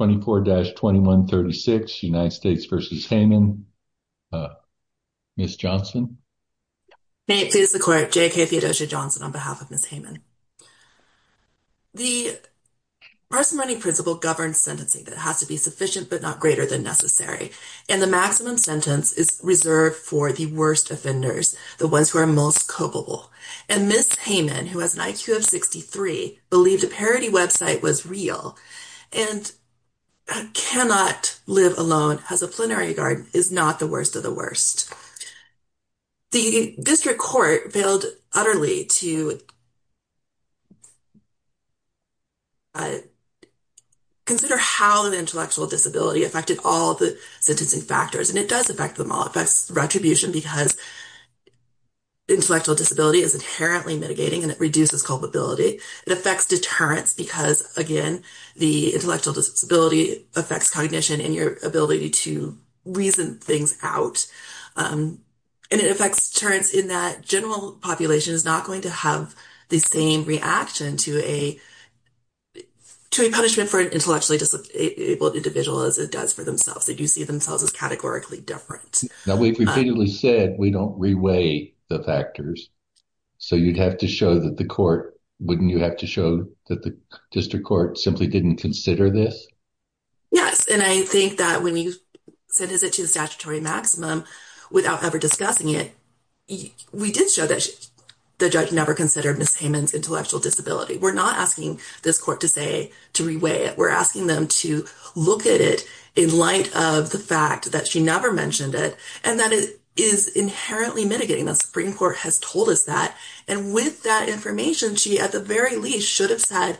May it please the court, J.K. Theodosia Johnson on behalf of Ms. Hayman. The Marston Learning Principle governs sentencing that has to be sufficient but not greater than necessary, and the maximum sentence is reserved for the worst offenders, the ones who are most culpable. Ms. Hayman, who has an IQ of 63, believed a parody website was real and cannot live alone as a plenary guard is not the worst of the worst. The district court failed utterly to consider how intellectual disability affected all the sentencing factors, and it does affect them all. It affects retribution because intellectual disability is inherently mitigating and it reduces culpability. It affects deterrence because, again, the intellectual disability affects cognition and your ability to reason things out. And it affects deterrence in that general population is not going to have the same reaction to a punishment for an intellectually disabled individual as it does for themselves. They do see themselves as categorically different. Now, we've repeatedly said we don't reweigh the factors. So you'd have to show that the court wouldn't you have to show that the district court simply didn't consider this? Yes, and I think that when you send it to the statutory maximum without ever discussing it, we did show that the judge never considered Ms. Hayman's intellectual disability. We're not asking this court to say to reweigh it. We're asking them to look at it in light of the fact that she never mentioned it and that it is inherently mitigating. The Supreme Court has told us that. And with that information, she at the very least should have said,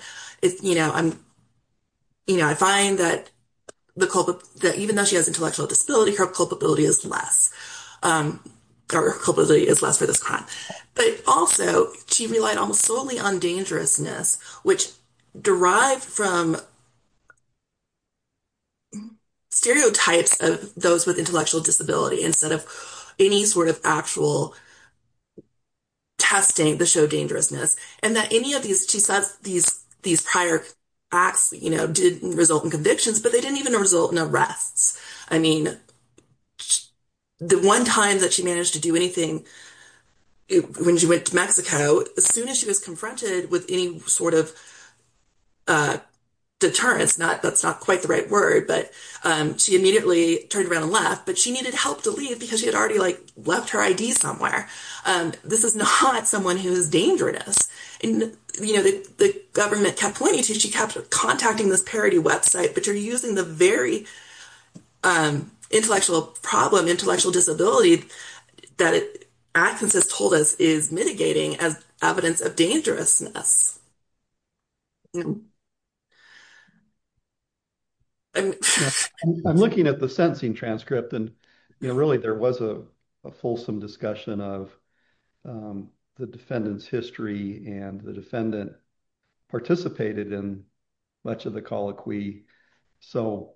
you know, I find that even though she has intellectual disability, her culpability is less for this crime. But also, she relied almost solely on dangerousness, which derived from stereotypes of those with intellectual disability instead of any sort of actual testing to show dangerousness. And that any of these prior acts, you know, didn't result in convictions, but they didn't even result in arrests. I mean, the one time that she managed to do anything when she went to Mexico, as soon as she was confronted with any sort of deterrence, that's not quite the right word, but she immediately turned around and left. But she needed help to leave because she had already like left her ID somewhere. This is not someone who is dangerous. And, you know, the government kept pointing to she kept contacting this parody website, but you're using the very intellectual problem, intellectual disability that Atkins has told us is mitigating as evidence of dangerousness. I'm looking at the sentencing transcript, and, you know, really, there was a fulsome discussion of the defendant's history. And the defendant participated in much of the colloquy. So,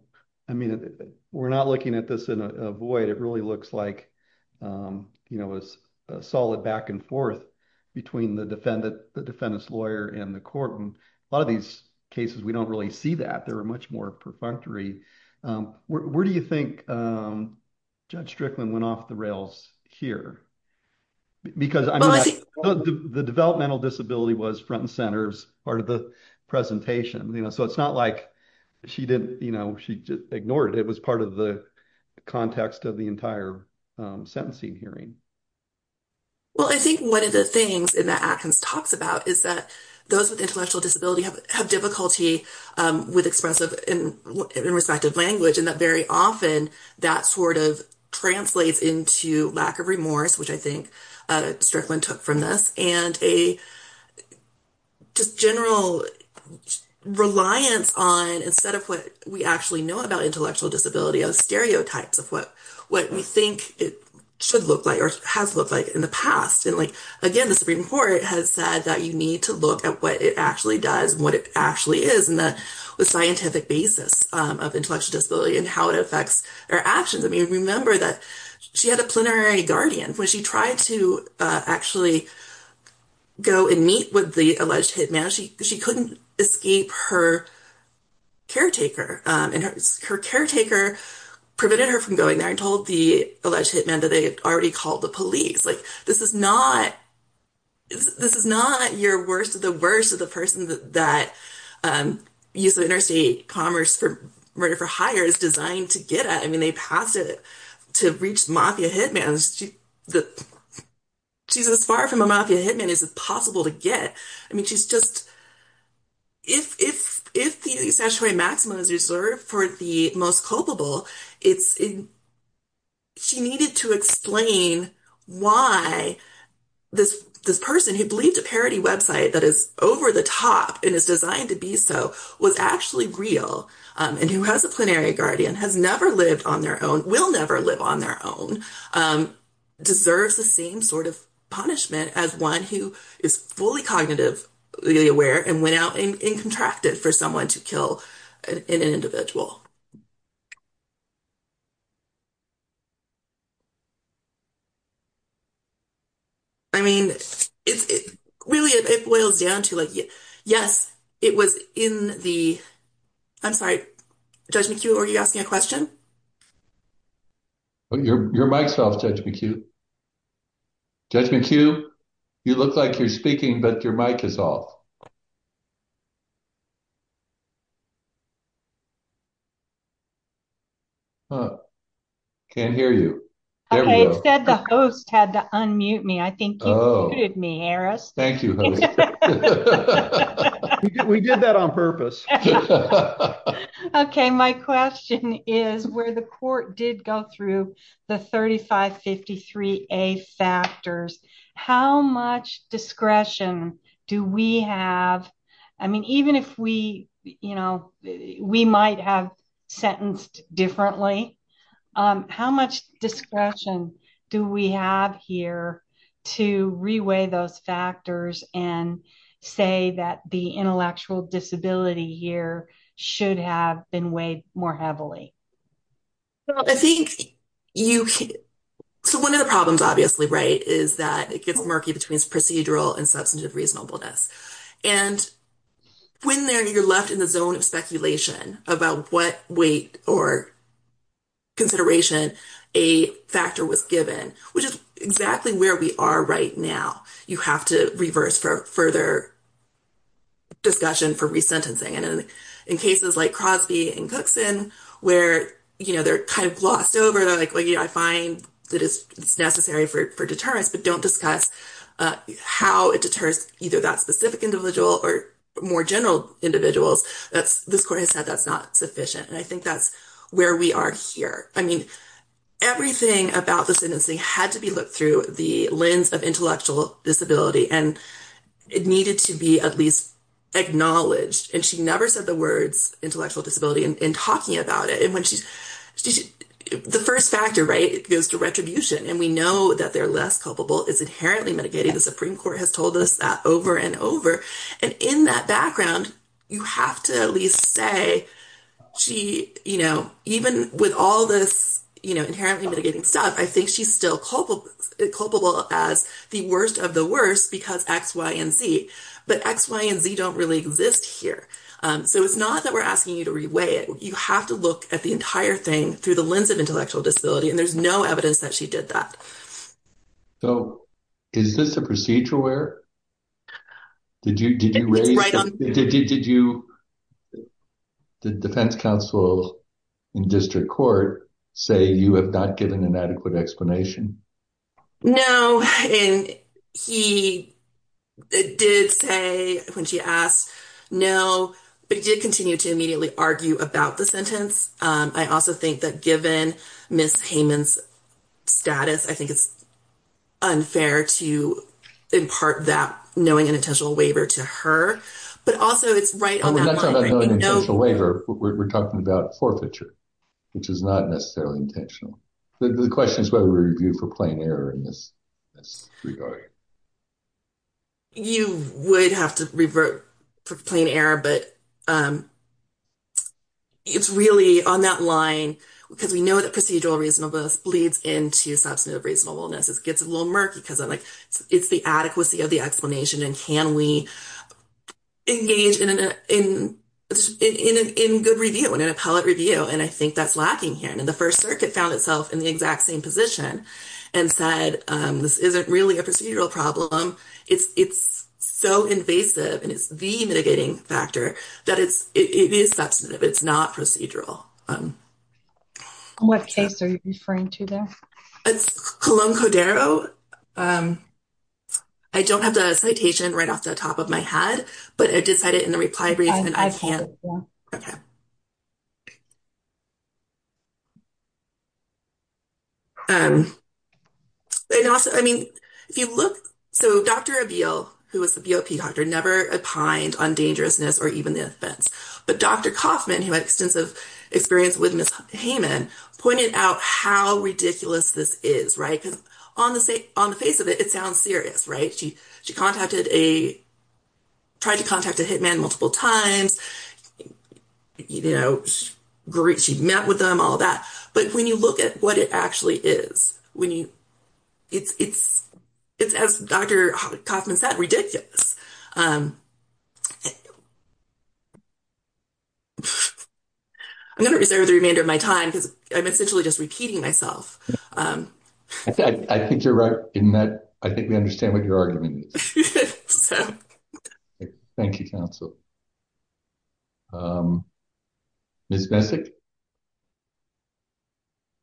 I mean, we're not looking at this in a void. It really looks like, you know, a solid back and forth between the defendant, the defendant's lawyer and the court. And a lot of these cases, we don't really see that. There are much more perfunctory. Where do you think Judge Strickland went off the rails here? Because the developmental disability was front and center's part of the presentation, you know, so it's not like she didn't, you know, she ignored it. It was part of the context of the entire sentencing hearing. Well, I think one of the things that Atkins talks about is that those with intellectual disability have difficulty with expressive and respective language, and that very often that sort of translates into lack of remorse, which I think Strickland took from this. And a just general reliance on, instead of what we actually know about intellectual disability, of stereotypes of what we think it should look like or has looked like in the past. And like, again, the Supreme Court has said that you need to look at what it actually does and what it actually is and the scientific basis of intellectual disability and how it affects our actions. I mean, remember that she had a plenary guardian. When she tried to actually go and meet with the alleged hitman, she couldn't escape her caretaker, and her caretaker prevented her from going there and told the alleged hitman that they had already called the police. Like, this is not your worst of the worst of the person that used the interstate commerce for murder for hire is designed to get at. I mean, they passed it to reach mafia hitmans. She's as far from a mafia hitman as it's possible to get. I mean, she's just. If the statutory maximum is reserved for the most culpable, she needed to explain why this person who believed a parody website that is over the top and is designed to be so was actually real and who has a plenary guardian, has never lived on their own, will never live on their own, deserves the same sort of punishment as one who is fully cognitively aware and went out and contracted for someone to kill an individual. I mean, it's really it boils down to, like, yes, it was in the I'm sorry, Judge McHugh, are you asking a question? Your mic's off, Judge McHugh. Judge McHugh, you look like you're speaking, but your mic is off. I can't hear you, I said the host had to unmute me, I think you muted me, Harris. Thank you. We did that on purpose. OK, my question is where the court did go through the thirty five fifty three A factors. How much discretion do we have? I mean, even if we we might have sentenced differently, how much discretion do we have here to reweigh those factors and say that the intellectual disability here should have been weighed more heavily? I think you so one of the problems, obviously, right, is that it gets murky between procedural and substantive reasonableness. And when you're left in the zone of speculation about what weight or consideration a factor was given, which is exactly where we are right now, you have to reverse for further. Discussion for resentencing and in cases like Crosby and Cookson, where they're kind of glossed over, like I find that it's necessary for deterrence, but don't discuss how it deters either that specific individual or more general individuals, that's this court has said that's not sufficient. And I think that's where we are here. I mean, everything about the sentencing had to be looked through the lens of intellectual disability and it needed to be at least acknowledged. And she never said the words intellectual disability in talking about it. And when she's the first factor, right, it goes to retribution. And we know that they're less culpable. It's inherently mitigating. The Supreme Court has told us that over and over. And in that background, you have to at least say, you know, even with all this inherently mitigating stuff, I think she's still culpable as the worst of the worst because X, Y, and Z. But X, Y, and Z don't really exist here. So it's not that we're asking you to reweigh it. You have to look at the entire thing through the lens of intellectual disability. And there's no evidence that she did that. So is this a procedural error? Did you did you raise did you did you did defense counsel in district court say you have not given an adequate explanation? No, and he did say when she asked, no, but he did continue to immediately argue about the sentence. I also think that given Ms. Heyman's status, I think it's unfair to impart that knowing and intentional waiver to her. But also, it's right on that line, right? We're not talking about knowing and intentional waiver, we're talking about forfeiture, which is not necessarily intentional. The question is whether we review for plain error in this regard. You would have to revert for plain error, but it's really on that line because we know that procedural reasonableness bleeds into substantive reasonableness. It gets a little murky because I'm like, it's the adequacy of the explanation. And can we engage in a good review and an appellate review? And I think that's lacking here. And the First Circuit found itself in the exact same position and said, this isn't really a procedural problem. It's so invasive and it's the mitigating factor that it is substantive. It's not procedural. In what case are you referring to there? It's Colón-Codero. I don't have the citation right off the top of my head, but I did cite it in the reply brief and I can't. I've handed it to you. I mean, if you look, so Dr. Abbeel, who was the BOP doctor, never opined on dangerousness or even the offense. But Dr. Kaufman, who had extensive experience with Ms. Hayman, pointed out how ridiculous this is, right? Because on the face of it, it sounds serious, right? She tried to contact a hitman multiple times. She met with them, all that. But when you look at what it actually is, it's, as Dr. Kaufman said, ridiculous. I'm going to reserve the remainder of my time because I'm essentially just repeating myself. I think you're right in that. I think we understand what your argument is. Thank you, counsel. Ms. Messick?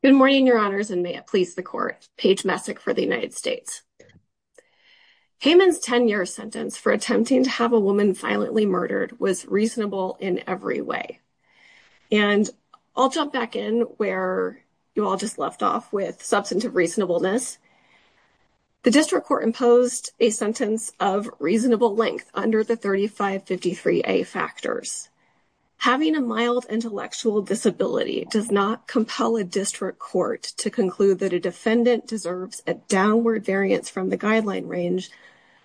Good morning, your honors, and may it please the court. Paige Messick for the United States. Hayman's 10-year sentence for attempting to have a woman violently murdered was reasonable in every way. And I'll jump back in where you all just left off with substantive reasonableness. The district court imposed a sentence of reasonable length under the 3553a factors. Having a mild intellectual disability does not compel a district court to conclude that a defendant deserves a downward variance from the guideline range,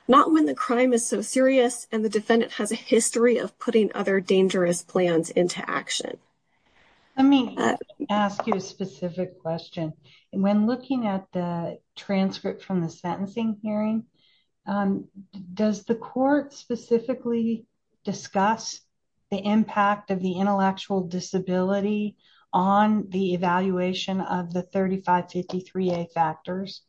not when the crime is so serious and the defendant has a history of putting other dangerous plans into action. Let me ask you a specific question. When looking at the transcript from the sentencing hearing, does the court specifically discuss the impact of the intellectual disability on the evaluation of the 3553a factors?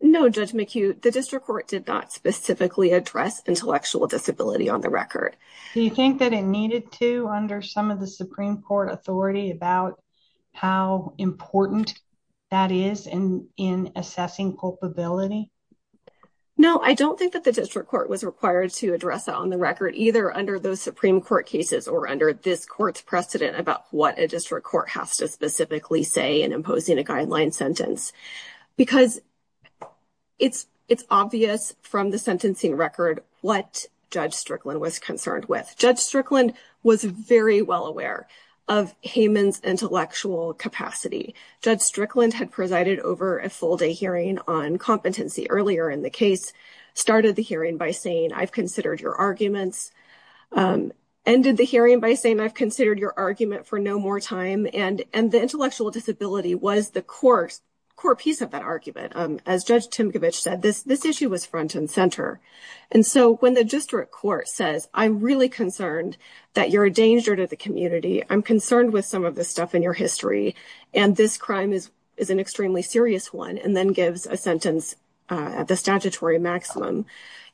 No, Judge McHugh. The district court did not specifically address intellectual disability on the record. Do you think that it needed to under some of the Supreme Court authority about how important that is in assessing culpability? No, I don't think that the district court was required to address that on the record, either under those Supreme Court cases or under this court's precedent about what a district court has to specifically say in imposing a guideline sentence. Because it's obvious from the sentencing record what Judge Strickland was concerned with. Judge Strickland was very well aware of Hayman's intellectual capacity. Judge Strickland had presided over a full day hearing on competency earlier in the case, started the hearing by saying, I've considered your arguments, ended the hearing by saying, I've considered your argument for no more time, and the intellectual disability was the core piece of that argument. As Judge Timkovich said, this issue was front and center. And so when the district court says, I'm really concerned that you're a danger to the community, I'm concerned with some of the stuff in your history, and this crime is an extremely serious one, and then gives a sentence at the statutory maximum,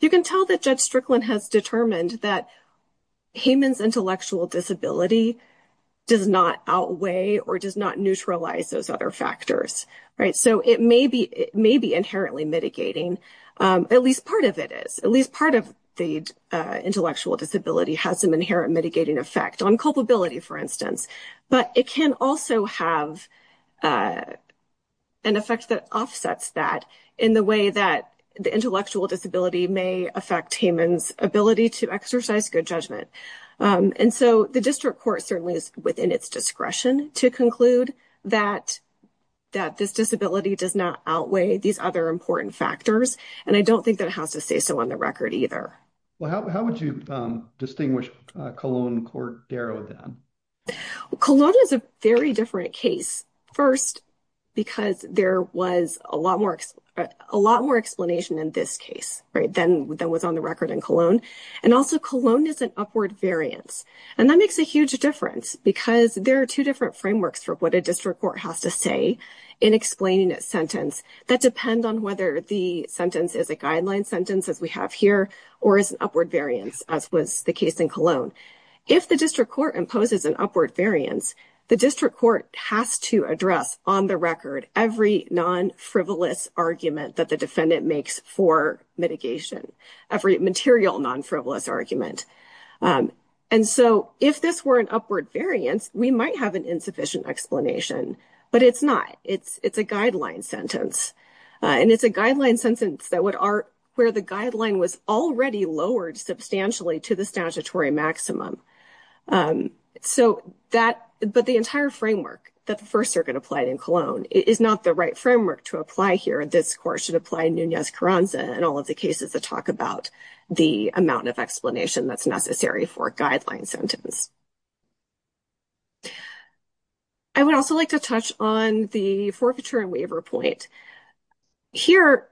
you can tell that Judge Strickland has determined that Hayman's intellectual disability does not outweigh or does not neutralize those other factors. So it may be inherently mitigating. At least part of it is. At least part of the intellectual disability has some inherent mitigating effect on culpability, for instance. But it can also have an effect that offsets that in the way that the intellectual disability may affect Hayman's ability to exercise good judgment. And so the district court certainly is within its discretion to conclude that this disability does not outweigh these other important factors. And I don't think that it has to stay so on the record either. Well, how would you distinguish Cologne court Darrow then? Cologne is a very different case. First, because there was a lot more explanation in this case, right, than was on the record in Cologne. And also, Cologne is an upward variance. And that makes a huge difference because there are two different frameworks for what a district court has to say in explaining a sentence that depend on whether the sentence is a guideline sentence, as we have here, or is an upward variance, as was the case in Cologne. If the district court imposes an upward variance, the district court has to address on the record every non-frivolous argument that the defendant makes for mitigation, every material non-frivolous argument. And so if this were an upward variance, we might have an insufficient explanation, but it's not. It's a guideline sentence. And it's a guideline sentence where the guideline was already lowered substantially to the statutory maximum. But the entire framework that the First Circuit applied in Cologne is not the right framework to apply here. This court should apply Nunez-Coronza and all of the cases that talk about the amount of explanation that's necessary for a guideline sentence. I would also like to touch on the forfeiture and waiver point. Here,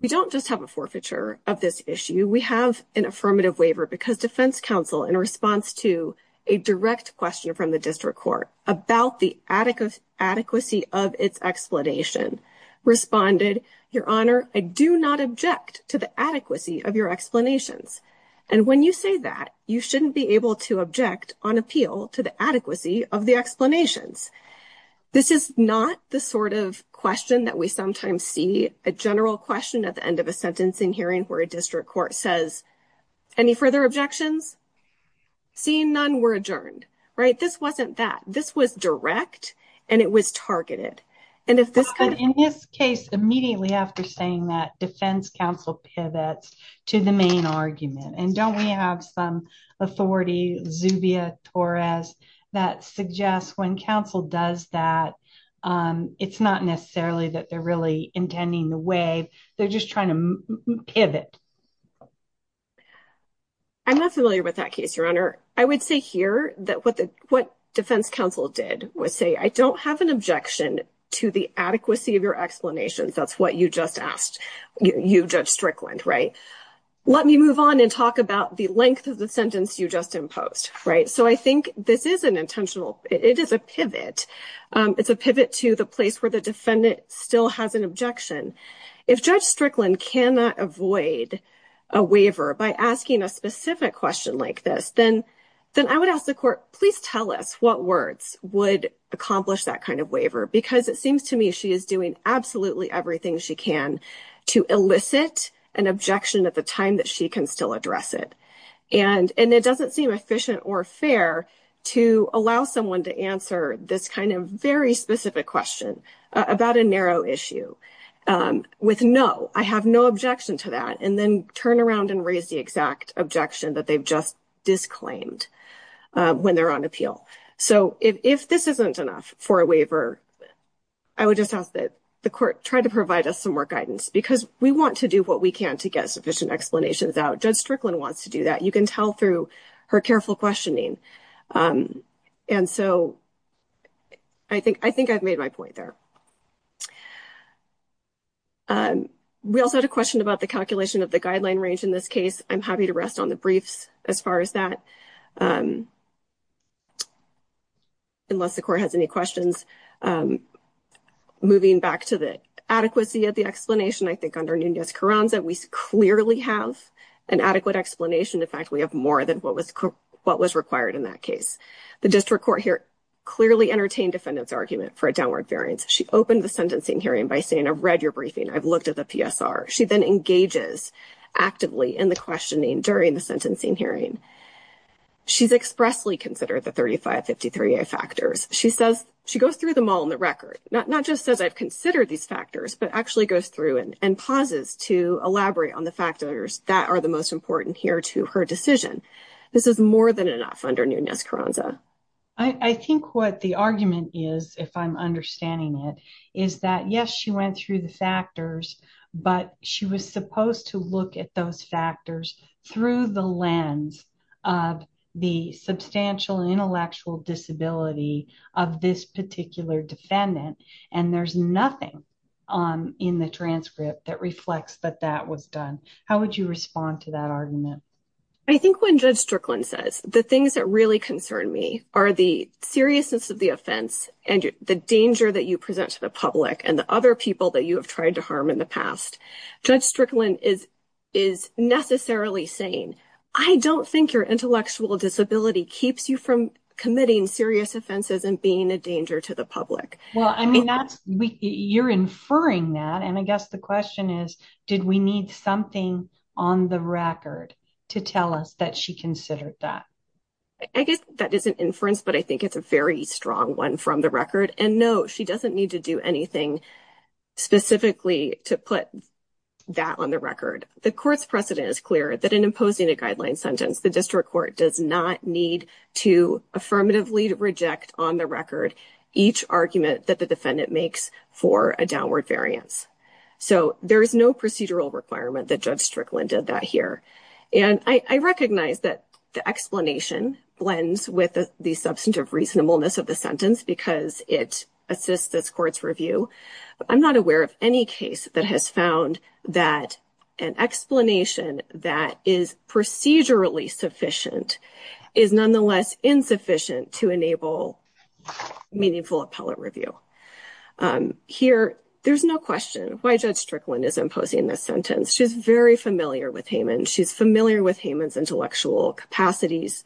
we don't just have a forfeiture of this issue. We have an affirmative waiver because in response to a direct question from the district court about the adequacy of its explanation, responded, Your Honor, I do not object to the adequacy of your explanations. And when you say that, you shouldn't be able to object on appeal to the adequacy of the explanations. This is not the sort of question that we sometimes see, a general question at the hearing, and we say, well, I'm not going to object to your explanations. See, none were adjourned. Right? This wasn't that. This was direct and it was targeted. And if this kind of... In this case, immediately after saying that, defense counsel pivots to the main argument. And don't we have some authority, Zubia Torres, that suggests when counsel does that, it's not necessarily that they're really intending the way, they're just trying to pivot. I'm not familiar with that case, Your Honor. I would say here that what defense counsel did was say, I don't have an objection to the adequacy of your explanations. That's what you just asked, you, Judge Strickland. Right? Let me move on and talk about the length of the sentence you just imposed. Right? So I think this is an intentional... It is a pivot. It's a pivot to the place where the waiver by asking a specific question like this, then I would ask the court, please tell us what words would accomplish that kind of waiver. Because it seems to me she is doing absolutely everything she can to elicit an objection at the time that she can still address it. And it doesn't seem efficient or fair to allow someone to answer this kind of very specific question about a narrow issue with no, I have no objection to that, and then turn around and raise the exact objection that they've just disclaimed when they're on appeal. So if this isn't enough for a waiver, I would just ask that the court try to provide us some more guidance, because we want to do what we can to get sufficient explanations out. Judge Strickland wants to do that. You can tell through her careful questioning. And so I think I've made my point there. We also had a question about the calculation of the guideline range. In this case, I'm happy to rest on the briefs as far as that, unless the court has any questions. Moving back to the adequacy of the explanation, I think under Nunez-Coranza, we clearly have an adequate explanation. In fact, we have more than what was required in that case. The district court here clearly entertained defendant's argument for a downward variance. She opened the sentencing hearing by saying, I've read your briefing. I've looked at the PSR. She then engages actively in the questioning during the sentencing hearing. She's expressly considered the 3553a factors. She says, she goes through them all on the record, not just says, I've considered these factors, but actually goes through and pauses to elaborate on the factors that are the most important here to her decision. This is more than enough under Nunez-Coranza. I think what the argument is, if I'm understanding it, is that yes, she went through the factors, but she was supposed to look at those factors through the lens of the substantial intellectual disability of this particular defendant. And there's nothing in the transcript that reflects that that was done. How would you respond to that argument? I think when Judge Strickland says the things that really concern me are the seriousness of the offense and the danger that you present to the public and the other people that you have tried to harm in the past, Judge Strickland is necessarily saying, I don't think your intellectual disability keeps you from committing serious offenses and being a danger to the public. Well, I mean, you're inferring that. And I guess the question is, did we need something on the record to tell us that she considered that? I guess that is an inference, but I think it's a very strong one from the record. And no, she doesn't need to do anything specifically to put that on the record. The court's precedent is clear that in imposing a guideline sentence, the district court does not need to affirmatively reject on the record each argument that the defendant makes for a downward variance. So there is no procedural requirement that Judge Strickland did that here. And I recognize that the explanation blends with the substantive reasonableness of the sentence because it assists this court's review. I'm not aware of any case that has found that an explanation that is procedurally sufficient is nonetheless insufficient to enable meaningful appellate review. Here, there's no question why Judge Strickland is imposing this sentence. She's very familiar with Hayman. She's familiar with Hayman's intellectual capacities.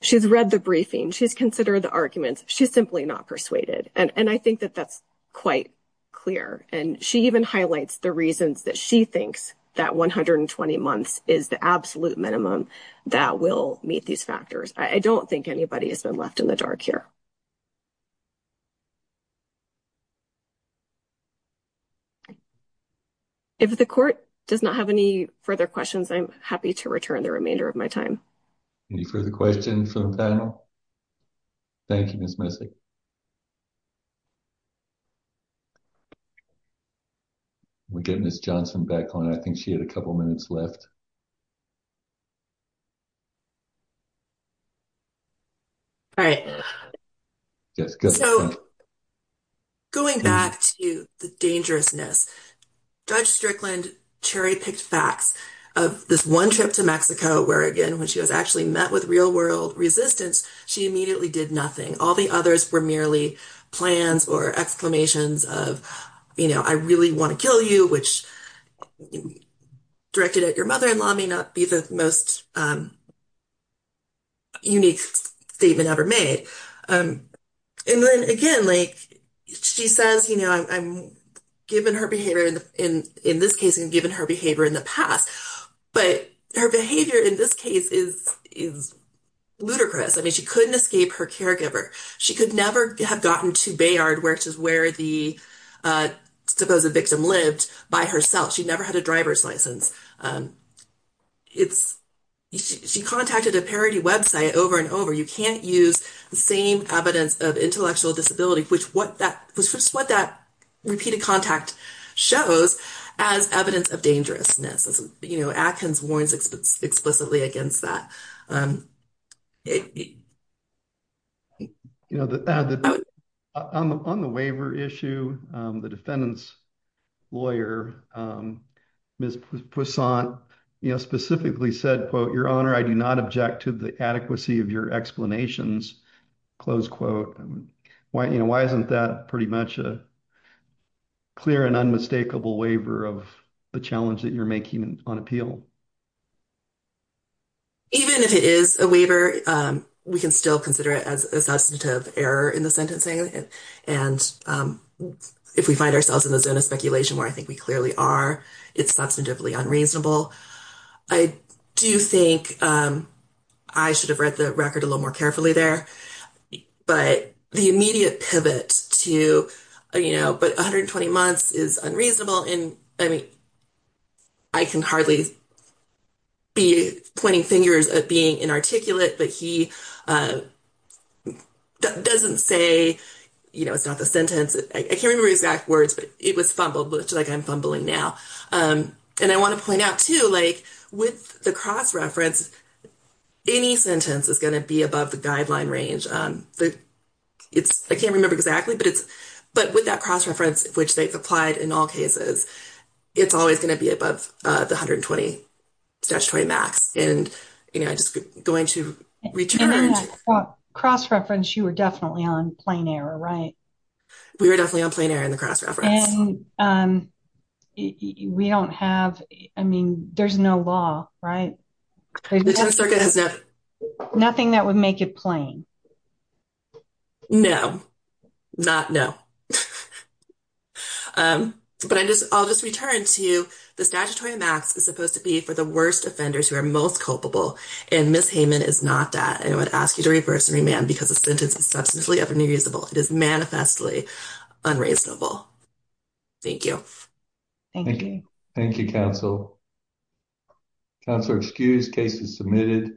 She's read the briefing. She's considered the arguments. She's simply not persuaded. And I think that that's quite clear. And she even highlights the reasons that she thinks that 120 months is the absolute minimum that will meet these factors. I don't think anybody has been left in the dark here. If the court does not have any further questions, I'm happy to return the remainder of my time. Any further questions from the panel? Thank you, Ms. Messick. We'll get Ms. Johnson back on. I think she had a couple minutes left. All right. Yes. So, going back to the dangerousness, Judge Strickland cherry-picked facts of this one trip to Mexico where, again, when she was actually met with real-world resistance, she immediately did nothing. All the others were merely plans or exclamations of, you know, directed at your mother-in-law may not be the most unique statement ever made. And then, again, like, she says, you know, I'm given her behavior in this case and given her behavior in the past. But her behavior in this case is ludicrous. I mean, she couldn't escape her caregiver. She could never have gotten to Bayard, which is where the supposed victim lived, by herself. She never had a driver's license. She contacted a parody website over and over. You can't use the same evidence of intellectual disability, which is what that repeated contact shows as evidence of dangerousness. You know, Atkins warns explicitly against that. You know, on the waiver issue, the defendant's lawyer, Ms. Poussaint, you know, specifically said, quote, your honor, I do not object to the adequacy of your explanations, close quote. Why, you know, why isn't that pretty much a clear and unmistakable waiver of the challenge that you're making on appeal? Even if it is a waiver, we can still consider it as a substantive error in the sentencing. And if we find ourselves in the zone of speculation, where I think we clearly are, it's substantively unreasonable. I do think I should have read the record a little more carefully there. But the immediate pivot to, you know, but 120 months is unreasonable. And I mean, I can hardly be pointing fingers at being inarticulate, but he doesn't say, you know, it's not the sentence. I can't remember exact words, but it was fumbled, which is like I'm fumbling now. And I want to point out too, like with the cross-reference, any sentence is going to be above the guideline range. It's, I can't remember exactly, but it's, but with that cross-reference, which they've applied in all cases, it's always going to be above the 120 statutory max. And, you know, just going to return. And then that cross-reference, you were definitely on plain error, right? We were definitely on plain error in the cross-reference. And we don't have, I mean, there's no law, right? Nothing that would make it plain. No, not no. But I'll just return to the statutory max is supposed to be for the worst offenders who are most culpable. And Ms. Hayman is not that. I would ask you to reverse and remand because the sentence is substantially unreasonable. It is manifestly unreasonable. Thank you. Thank you. Thank you, counsel. Counselor, excused. Case is submitted.